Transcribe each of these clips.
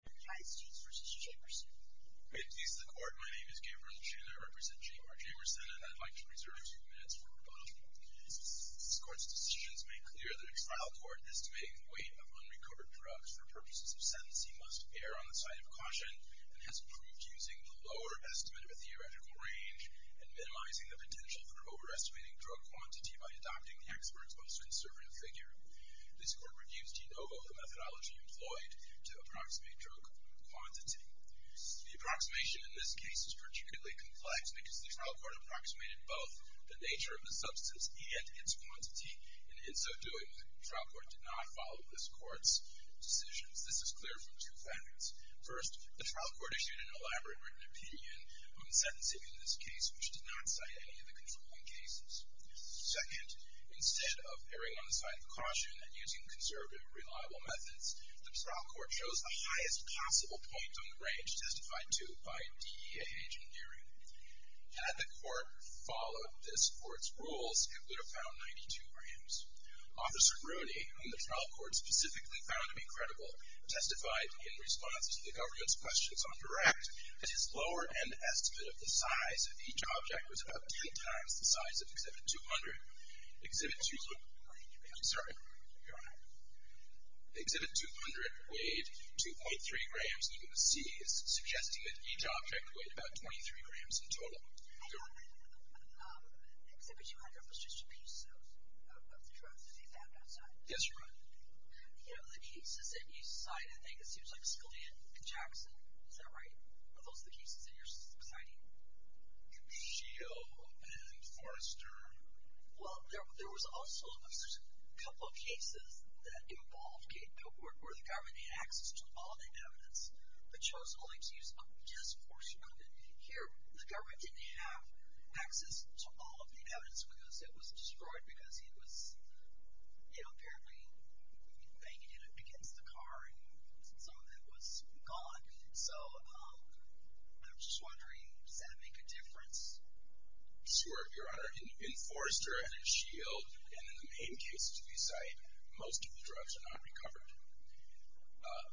The Court's decisions make clear that a trial court estimating the weight of unrecovered drugs for purposes of sentencing must err on the side of caution, and has proved using the lower estimate of a theoretical range and minimizing the potential for overestimating drug quantity by adopting the expert's most conservative figure. This Court reviews de novo the methodology employed to approximate drug quantity. The approximation in this case is particularly complex because the trial court approximated both the nature of the substance and its quantity, and in so doing, the trial court did not follow this Court's decisions. This is clear from two facts. First, the trial court issued an elaborate written opinion on sentencing in this case, which did not cite any of the controlling cases. Second, instead of erring on the side of caution and using conservative, reliable methods, the trial court chose the highest possible point on the range testified to by DEA agent Geary. Had the court followed this Court's rules, it would have found 92 grams. Officer Rooney, whom the trial court specifically found to be credible, testified in response to the government's questions on direct that his lower-end estimate of the size of each Exhibit 200 weighed 2.3 grams, and you can see he's suggesting that each object weighed about 23 grams in total. Go ahead. Exhibit 200 was just a piece of the drug that he found outside? Yes, Your Honor. You know, the cases that you cite, I think, it seems like Scalia and Jackson. Is that right? Are those the cases that you're citing? Sheo and Forrester. Well, there was also a couple of cases that involved gate code, where the government had access to all of the evidence, but chose only to use a disproportionate amount. Here, the government didn't have access to all of the evidence, because it was destroyed because it was, you know, apparently banked in against the car, and some of it was gone. So, I'm just wondering, does that make a difference? Sure, Your Honor. In Forrester and in Shield, and in the main cases that you cite, most of the drugs are not recovered.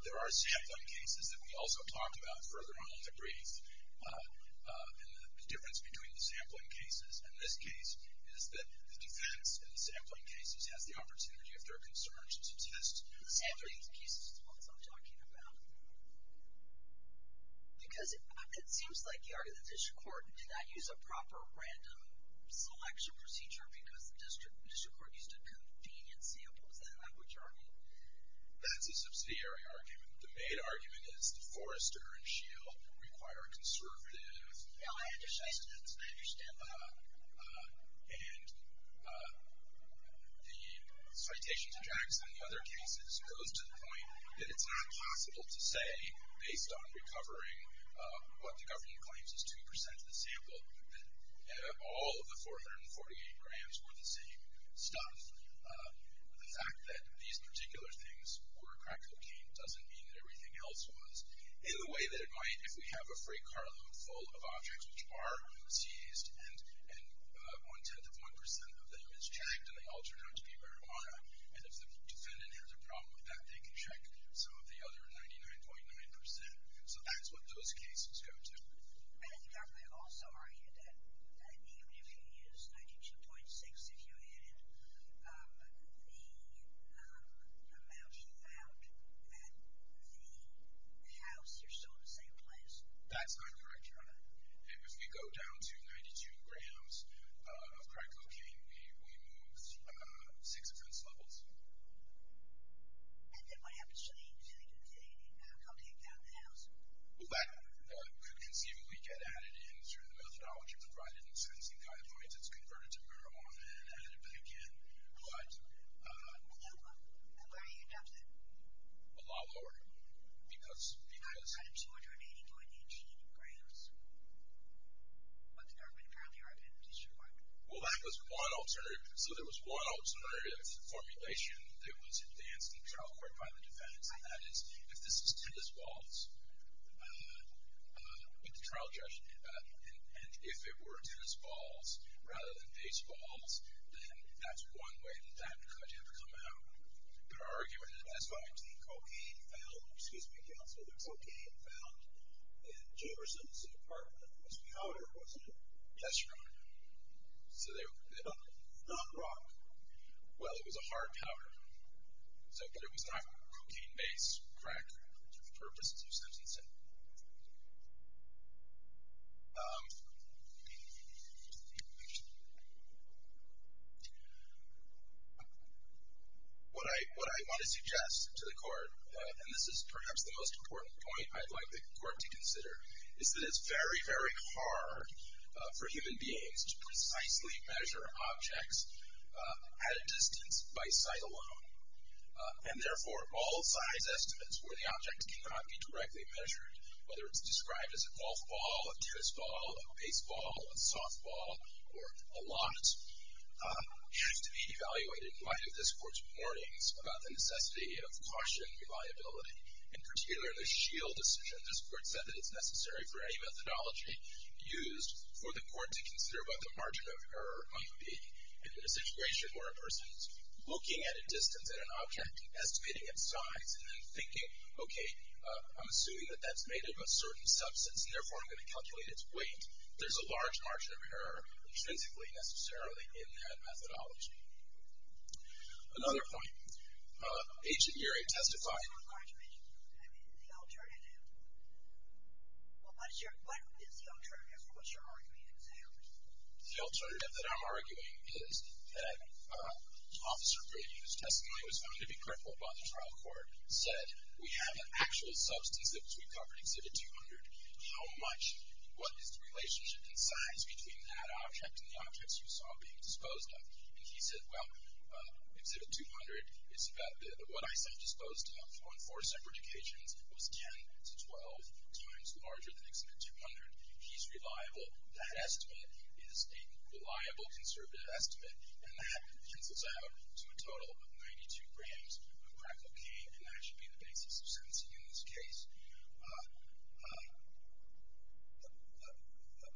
There are sampling cases that we also talk about further on in the brief. And the difference between the sampling cases and this case is that the defense in the sampling cases has the opportunity, if there are concerns, to test some of these cases. That's what I'm talking about. Because it seems like, Your Honor, the district court did not use a proper random selection procedure, because the district court used a convenient sample. Is that not what you're arguing? That's a subsidiary argument. The main argument is that Forrester and Shield require conservative... No, I understand that. And the citation to Jackson and the other cases goes to the point that it's not possible to say, based on recovering what the government claims is 2% of the sample, that all of the 448 grams were the same stuff. The fact that these particular things were crack cocaine doesn't mean that everything else was. In the way that it might if we have a free carload full of objects which are seized and one-tenth of 1% of them is checked and they all turn out to be marijuana. And if the defendant has a problem with that, they can check some of the other 99.9%. So that's what those cases go to. I think I've also argued that even if you use 92.6, if you added the amount you found at the house, you're still in the same place. That's not correct, Your Honor. If we go down to 92 grams of crack cocaine, we move 6 offense levels. And then what happens to the object found at the house? Well, that could conceivably get added in through the methodology provided in the sentencing guidelines. It's converted to marijuana and added back in. But... Why are you in doubt? A lot lower. Because? Because it's higher than 280.8 grams. But there apparently are penalties required. Well, that was one alternative. So there was one alternative formulation that was advanced in the trial court by the defendants. And that is, if this is tennis balls, what the trial judge did about it, and if it were tennis balls rather than baseballs, then that's one way that could ever come out. There's an argument in the SYT. Cocaine found. Excuse me, counsel. There's cocaine found in Jefferson's apartment. It was powder, wasn't it? Yes, Your Honor. So they found it. It's not rock. Well, it was a hard powder. But it was not cocaine-based crack for the purposes of sentencing. What I want to suggest to the court, and this is perhaps the most important point I'd like the court to consider, is that it's very, very hard for human beings to precisely measure objects at a distance by sight alone. And therefore, all size estimates where the objects cannot be directly measured whether it's described as a golf ball, a tennis ball, a baseball, a softball, or a lot, have to be evaluated in light of this court's warnings about the necessity of caution and reliability. In particular, the S.H.I.E.L.D. decision. This court said that it's necessary for any methodology used for the court to consider what the margin of error might be if in a situation where a person is looking at a distance and an object, estimating its size, and then thinking, okay, I'm assuming that that's made of a certain substance, and therefore I'm going to calculate its weight. There's a large margin of error intrinsically, necessarily, in that methodology. Another point. Agent Geary testified. What's your argument? I mean, the alternative. What is the alternative? What's your argument? The alternative that I'm arguing is that Officer Brady, whose testimony was found to be critical by the trial court, said we have an actual substance that we covered in Exhibit 200. How much, what is the relationship in size between that object and the objects you saw being disposed of? And he said, well, Exhibit 200 is about what I saw disposed of on four separate occasions. It was 10 to 12 times larger than Exhibit 200. He's reliable. That estimate is a reliable, conservative estimate, and that pencils out to a total of 92 grams of crack cocaine, and that should be the basis of sentencing in this case.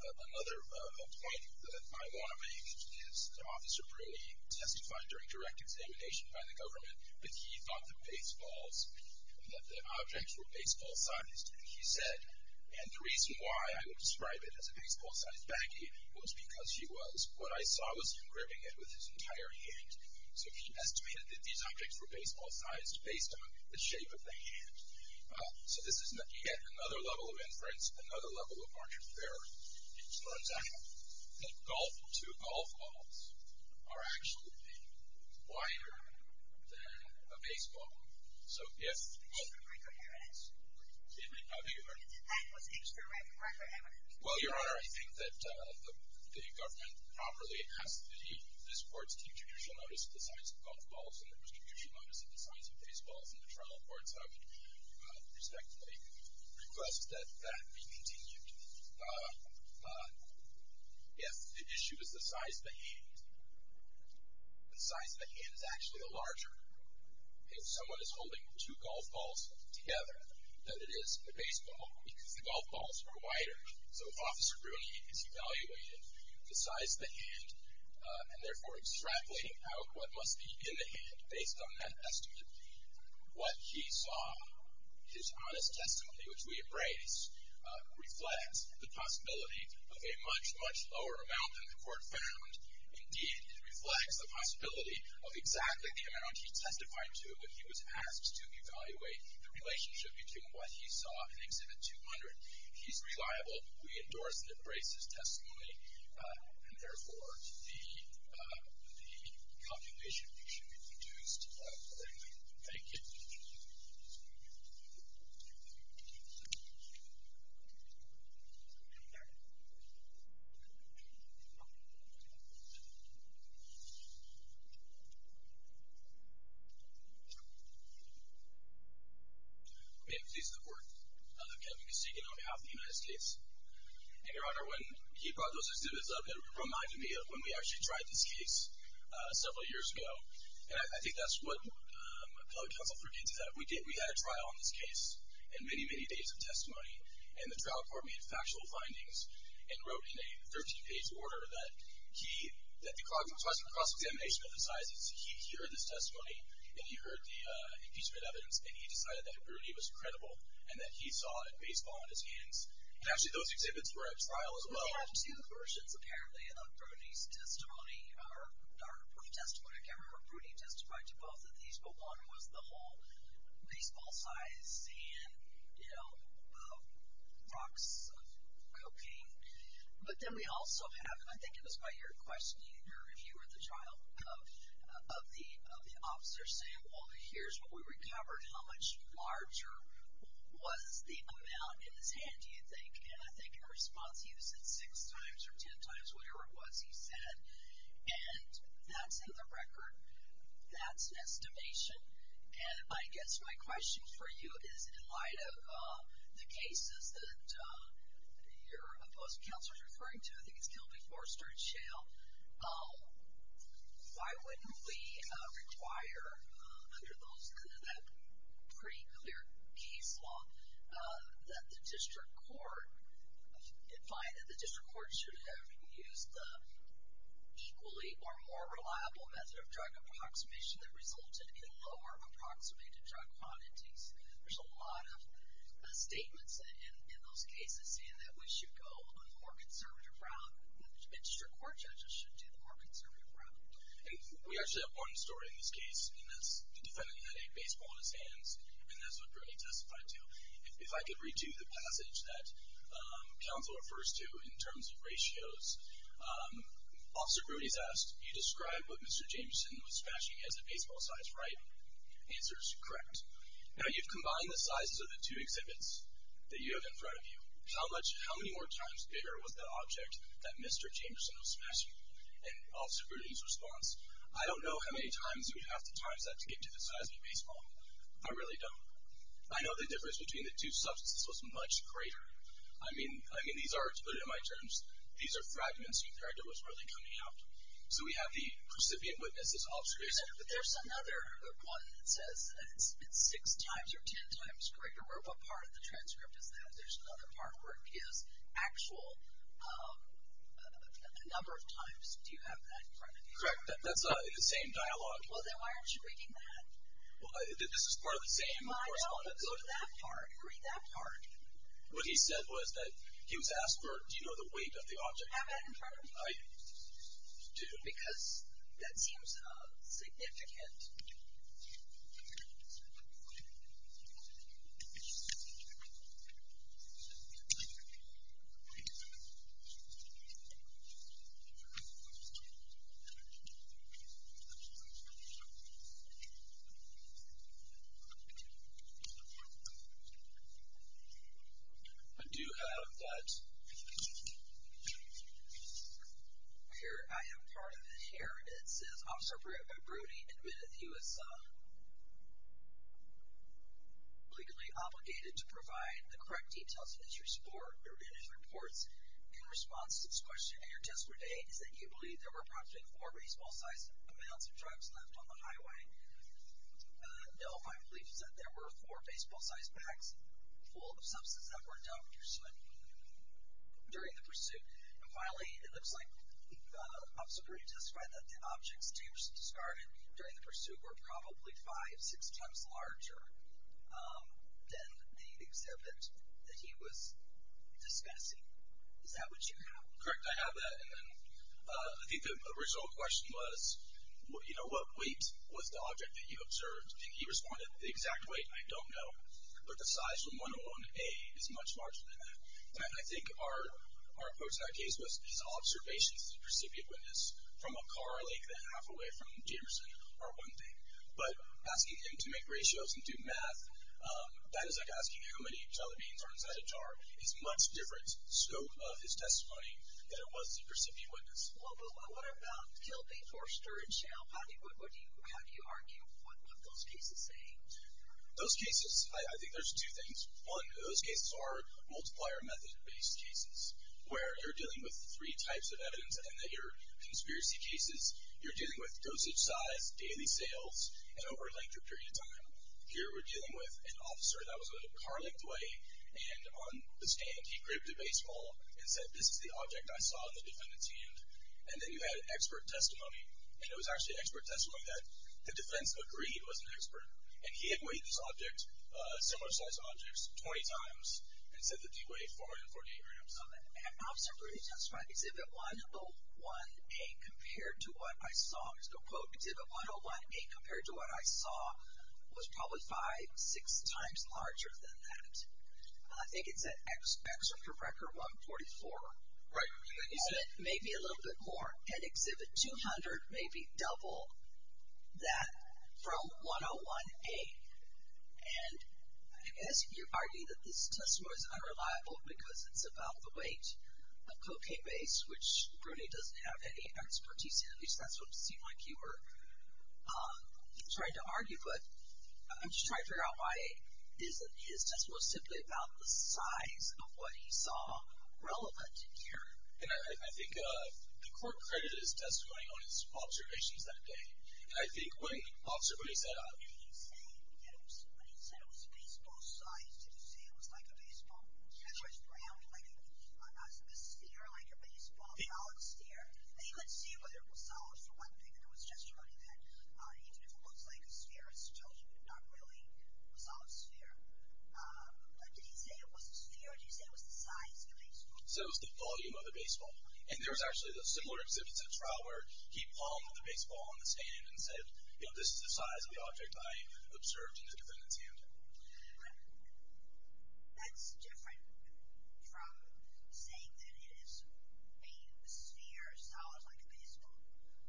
Another point that I want to make is that Officer Braley testified during direct examination by the government, but he thought the baseballs, that the objects were baseball sized. He said, and the reason why I would describe it as a baseball-sized baggie was because he was. What I saw was him gripping it with his entire hand, so he estimated that these objects were baseball-sized based on the shape of the hand. So this is yet another level of inference, another level of market theory, which turns out that golf, two golf balls, are actually wider than a baseball. So, yes. I think you heard me. Well, Your Honor, I think that the government properly asked that this court's contribution notice to the size of golf balls and the contribution notice to the size of baseballs in the trial court, so I would respectfully request that that be continued. Yes, the issue is the size of the hand. The size of the hand is actually larger. If someone is holding two golf balls together, that it is a baseball because the golf balls are wider. So if Officer Braley is evaluating the size of the hand and therefore extrapolating out what must be in the hand based on that estimate, what he saw, his honest testimony, which we embrace, reflects the possibility of a much, much lower amount than the court found. Indeed, it reflects the possibility of exactly the amount he testified to when he was asked to evaluate the relationship between what he saw and Exhibit 200. He's reliable. We endorse and embrace his testimony, and, therefore, the calculation should be reduced. Thank you. Thank you. May it please the Court. I'm Kevin Kosygin on behalf of the United States. And, Your Honor, when he brought those exhibits up, it reminded me of when we actually tried this case several years ago, and I think that's what a fellow counselor did to that. We had a trial on this case, and many, many days of testimony, and the trial court made factual findings and wrote in a 13-page order that he, that the cognitizing and cross-examination of the size is key here in this testimony, and he heard the impeachment evidence, and he decided that Brudy was credible and that he saw a baseball in his hands. And, actually, those exhibits were at trial as well. We have two versions, apparently, of Brudy's testimony, or Brudy's testimony. I can't remember if Brudy testified to both of these, but one was the whole baseball size and, you know, rocks of cocaine. But then we also have, and I think it was by your question, your review at the trial of the officer saying, well, here's what we recovered. How much larger was the amount in his hand, do you think? And I think in response, he said six times or ten times, whatever it was he said. And that's in the record. That's an estimation. And I guess my question for you is, in light of the cases that your opposed counselor is referring to, I think it's Kilby, Forster, and Shale, why wouldn't we require, under that pretty clear case law, that the district court should have used the equally or more reliable method of drug approximation that resulted in lower approximated drug quantities? There's a lot of statements in those cases saying that we should go on the more conservative route, and the district court judges should do the more conservative route. And we actually have one story in this case, and that's the defendant had a baseball in his hands, and that's what Brudy testified to. If I could redo the passage that Counselor refers to in terms of ratios, Officer Brudy's asked, you described what Mr. Jameson was fashioning as a baseball size, right? The answer is correct. Now, you've combined the sizes of the two exhibits that you have in front of you. How many more times bigger was the object that Mr. Jameson was fashioning? And Officer Brudy's response, I don't know how many times you'd have to times that to get to the size of a baseball. I really don't. I know the difference between the two substances was much greater. I mean, these are, to put it in my terms, these are fragments. You dragged it was really coming out. So we have the recipient witness is Officer Brudy. But there's another one that says it's six times or ten times greater, or what part of the transcript is that? There's another part where it gives actual number of times. Do you have that in front of you? Correct. That's the same dialogue. Well, then why aren't you reading that? Well, this is part of the same correspondence. Go to that part. Read that part. What he said was that he was asked, do you know the weight of the object? Have that in front of you. I do. Because that seems significant. I do have that. I have part of it here. It says Officer Brudy admitted he was legally obligated to provide the correct details of his report. In response to this question, your testimony is that you believe there were approximately four baseball-sized amounts of drugs left on the highway. No, my belief is that there were four baseball-sized packs full of substances that were dumped during the pursuit. And finally, it looks like Officer Brudy testified that the objects James discarded during the pursuit were probably five, six times larger than the exhibit that he was discussing. Is that what you have? Correct. I have that. And then I think the original question was, you know what, weight was the object that you observed. And he responded, the exact weight, I don't know. But the size from 101A is much larger than that. And I think our approach in our case was his observations of the precipient witness from a car like that, halfway from Jamerson are one thing. But asking him to make ratios and do math, that is like asking how many televines are inside a jar. It's a much different scope of his testimony than it was the precipient witness. Well, but what about Kilby, Forster, and Shale? How do you argue what those cases say? Those cases, I think there's two things. One, those cases are multiplier method-based cases, where you're dealing with three types of evidence. And they're conspiracy cases. You're dealing with dosage size, daily sales, and over a length of period of time. Here we're dealing with an officer that was in a car like the way, and on the stand he grabbed a baseball and said, this is the object I saw in the defendant's hand. And then you had expert testimony. And it was actually expert testimony that the defense agreed that he was an expert. And he had weighed this object, similar sized objects, 20 times. And said that he weighed 440 grams. An officer really testified exhibit 101A compared to what I saw. There's no quote. Exhibit 101A compared to what I saw was probably five, six times larger than that. I think it's at x for record 144. Right. Maybe a little bit more. And exhibit 200, maybe double that from 101A. And I guess you argue that this testimony is unreliable because it's about the weight of cocaine base, which Bruni doesn't have any expertise in. At least that's what it seemed like you were trying to argue. But I'm just trying to figure out why isn't his testimony simply about the size of what he saw relevant here. I think the court credited his testimony on its observations that day. I think when Officer Bruni said, Did he say that it was a baseball size? Did he say it was like a baseball? It was round, like a sphere, like a baseball, a solid sphere. And he let's see whether it was solid for one thing. And there was a testimony that even if it looks like a sphere, it's still not really a solid sphere. Did he say it was a sphere? Did he say it was the size of a baseball? Did he say it was the volume of a baseball? And there was actually a similar exhibit at a trial where he palmed the baseball on the stand and said, This is the size of the object I observed in the defendant's hand. That's different from saying that it is a sphere, a solid, like a baseball.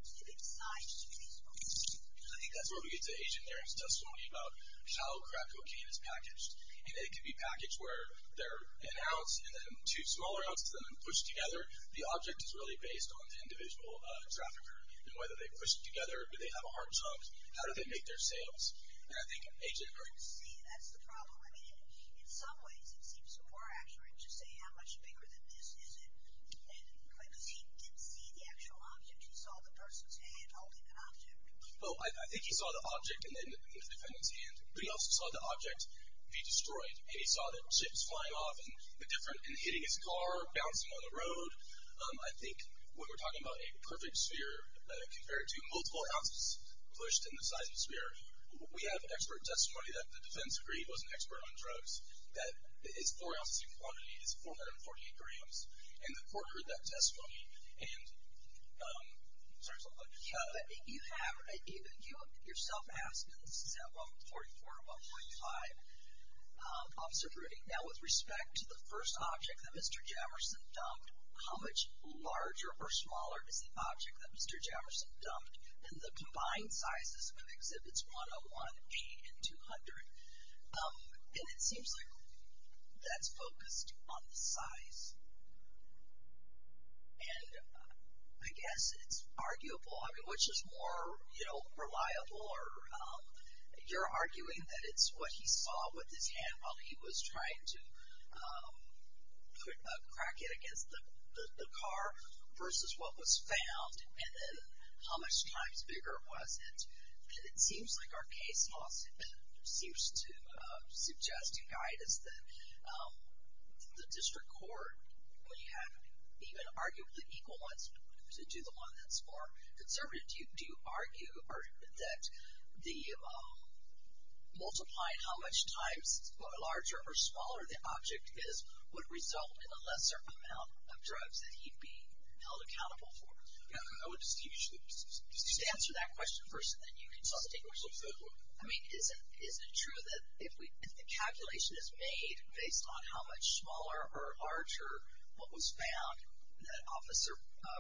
Did it size to be a baseball? I think that's where we get to Agent Nairn's testimony about how crack cocaine is packaged. And it can be packaged where there are an ounce and then two smaller ounces and then pushed together. The object is really based on the individual trafficker and whether they push it together or do they have a hard chunk. How do they make their sales? And I think Agent Nairn. See, that's the problem. I mean, in some ways it seems more accurate to say, How much bigger than this is it? And he didn't see the actual object. He saw the person's hand holding the object. Well, I think he saw the object in the defendant's hand. But he also saw the object be destroyed. And he saw the chips flying off and hitting his car, bouncing on the road. I think when we're talking about a perfect sphere compared to multiple ounces pushed in the size of a sphere, we have expert testimony that the defense agreed was an expert on drugs. That is four ounces in quantity is 440 grams. And the court heard that testimony. And you have yourself asking, is that 144 or 145? Officer Rudy, now with respect to the first object that Mr. Jamerson dumped, how much larger or smaller is the object that Mr. Jamerson dumped in the combined sizes of exhibits 101, 8, and 200? And it seems like that's focused on the size. And I guess it's arguable. I mean, which is more, you know, reliable? Or you're arguing that it's what he saw with his hand while he was trying to crack it against the car versus what was found. And then how much times bigger was it? And it seems like our case law seems to suggest, as you guide us, that the district court, when you have even arguably equal ones, to do the one that's more conservative, do you argue that the multiplying how much times larger or smaller the object is would result in a lesser amount of drugs that he'd be held accountable for? I would just give you a chance to answer that question first, and then you can suss it out. I mean, is it true that if the calculation is made based on how much smaller or larger what was found that Officer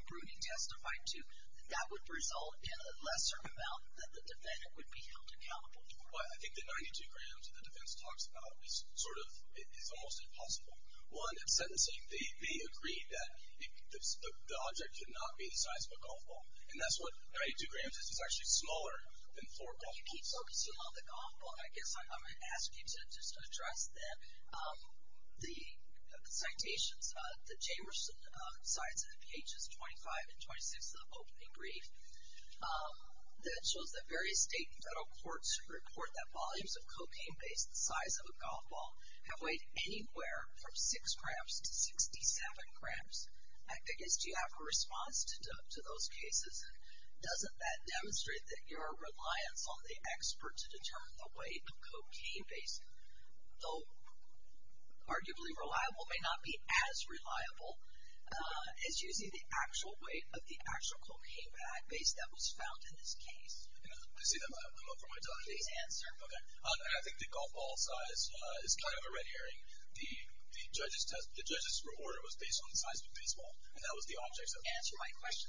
Bruning testified to, that that would result in a lesser amount that the defendant would be held accountable for? Well, I think the 92 grams that the defense talks about is sort of almost impossible. One, in sentencing, they agreed that the object could not be the size of a golf ball. And that's what 92 grams is. It's actually smaller than four golf balls. Well, you keep focusing on the golf ball. I guess I'm going to ask you to just address that. The citations, the Jamerson cites in pages 25 and 26 of the opening brief that shows that various state and federal courts report that volumes of cocaine based the size of a golf ball have weighed anywhere from 6 grams to 67 grams. I guess, do you have a response to those cases? Doesn't that demonstrate that your reliance on the expert to determine the weight of cocaine based, though arguably reliable, may not be as reliable as using the actual weight of the actual cocaine bag based that was found in this case? I see that. I'm up for my time. Please answer. Okay. I think the golf ball size is kind of a red herring. The judge's report was based on the size of a baseball. And that was the object of the case. Answer my question.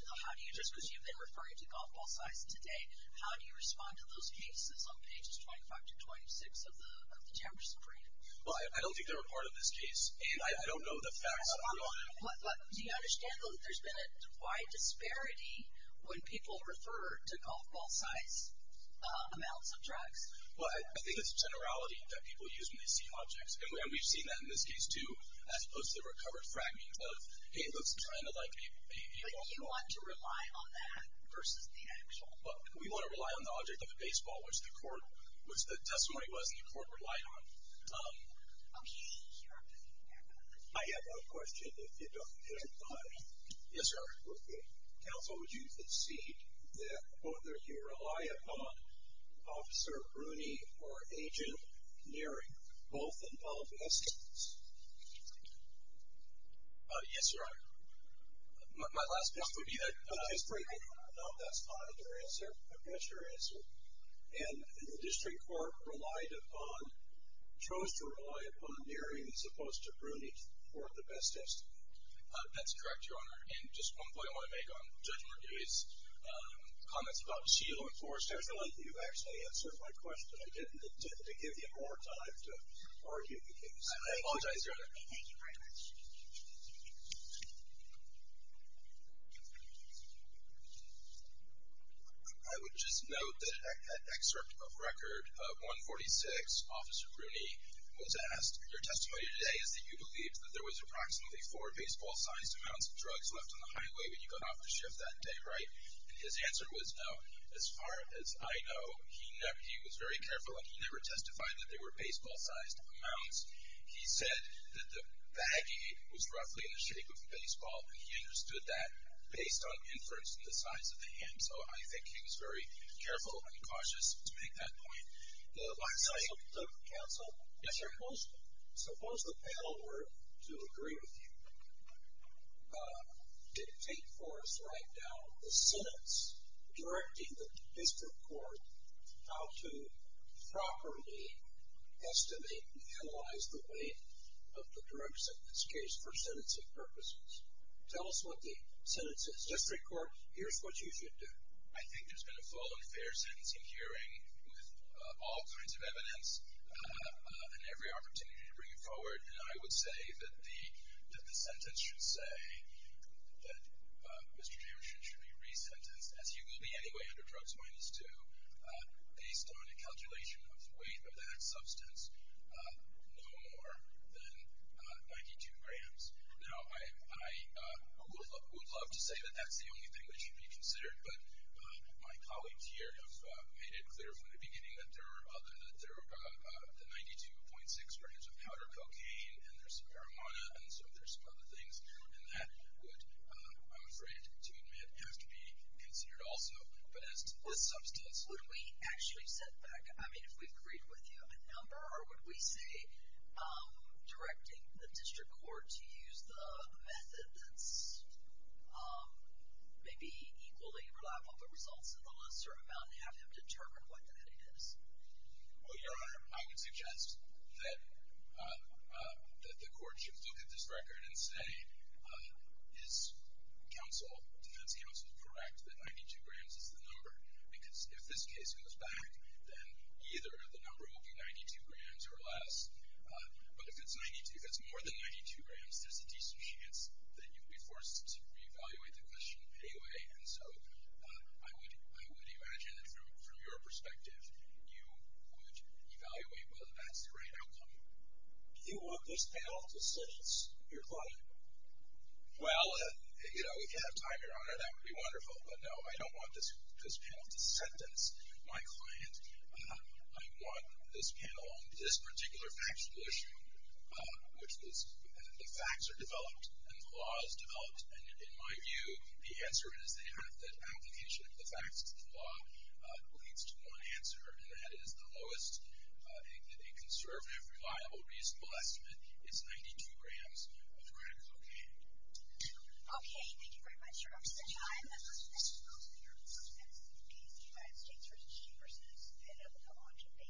Just because you've been referring to golf ball size today, how do you respond to those cases on pages 25 to 26 of the Jamerson brief? Well, I don't think they were part of this case. And I don't know the facts. Do you understand that there's been a wide disparity when people refer to golf ball size amounts of drugs? Well, I think it's generality that people use when they see objects. And we've seen that in this case, too, as opposed to recovered fragments of, hey, look, it's kind of like a golf ball. But you want to rely on that versus the actual? Well, we want to rely on the object of the baseball, which the testimony was the court relied on. Okay. I have a question if you don't mind. Yes, sir. Okay. Counsel, would you concede that whether you rely upon Officer Rooney or Agent Neary both involved in this case? Yes, Your Honor. My last question would be that. No, that's not your answer. I've got your answer. And the district court relied upon, chose to rely upon Neary as opposed to Rooney for the best test. That's correct, Your Honor. And just one point I want to make on Judge Mordei's comments about seal Going forward, I feel like you've actually answered my question. I didn't intend to give you more time to argue the case. I apologize, Your Honor. Thank you very much. I would just note that an excerpt of record of 146, Officer Rooney was asked, your testimony today is that you believed that there was approximately four baseball-sized amounts of drugs left on the highway when you got off the shift that day, right? And his answer was no. As far as I know, he was very careful, and he never testified that they were baseball-sized amounts. He said that the baggie was roughly in the shape of a baseball, and he understood that based on inference of the size of the hand. So I think he was very careful and cautious to make that point. Counsel? Yes, sir. Suppose the panel were to agree with you, dictate for us right now the sentence directing the district court how to properly estimate and analyze the weight of the drug sentence case for sentencing purposes. Tell us what the sentence is. District court, here's what you should do. I think there's been a full and fair sentencing hearing with all kinds of evidence and every opportunity to bring it forward, and I would say that the sentence should say that Mr. Jameson should be resentenced, as he will be anyway under drugs minus two, based on a calculation of the weight of that substance no more than 92 grams. Now, I would love to say that that's the only thing that should be considered, but my colleagues here have made it clear from the beginning that the 92.6 grams of powder cocaine and there's some marijuana and there's some other things, and that would, I'm afraid to admit, have to be considered also, but as to the substance. Would we actually set back, I mean, if we've agreed with you, a number, or would we say directing the district court to use the method that's maybe equally reliable, but results in a lesser amount, and we have to determine what the heading is? Well, Your Honor, I would suggest that the court should look at this record and say, is counsel, defense counsel, correct that 92 grams is the number? Because if this case goes back, then either the number will be 92 grams or less, but if it's more than 92 grams, there's a decent chance that you'll be forced to reevaluate the question anyway, and so I would imagine that from your perspective, you would evaluate whether that's the right outcome. Do you want this panel to sentence your client? Well, you know, we could have time, Your Honor, that would be wonderful, but no, I don't want this panel to sentence my client. I want this panel on this particular factual issue, which is the facts are developed and the law is developed, and in my view, the answer is they have that application of the facts and the law leads to one answer, and that is the lowest, a conservative, reliable, reasonable estimate is 92 grams. Your Honor, is that okay? Okay, thank you very much, Your Honor. So now I'm going to turn the question over to your counsel, Judge Madison, in case the United States versus U.S. has been able to come on today.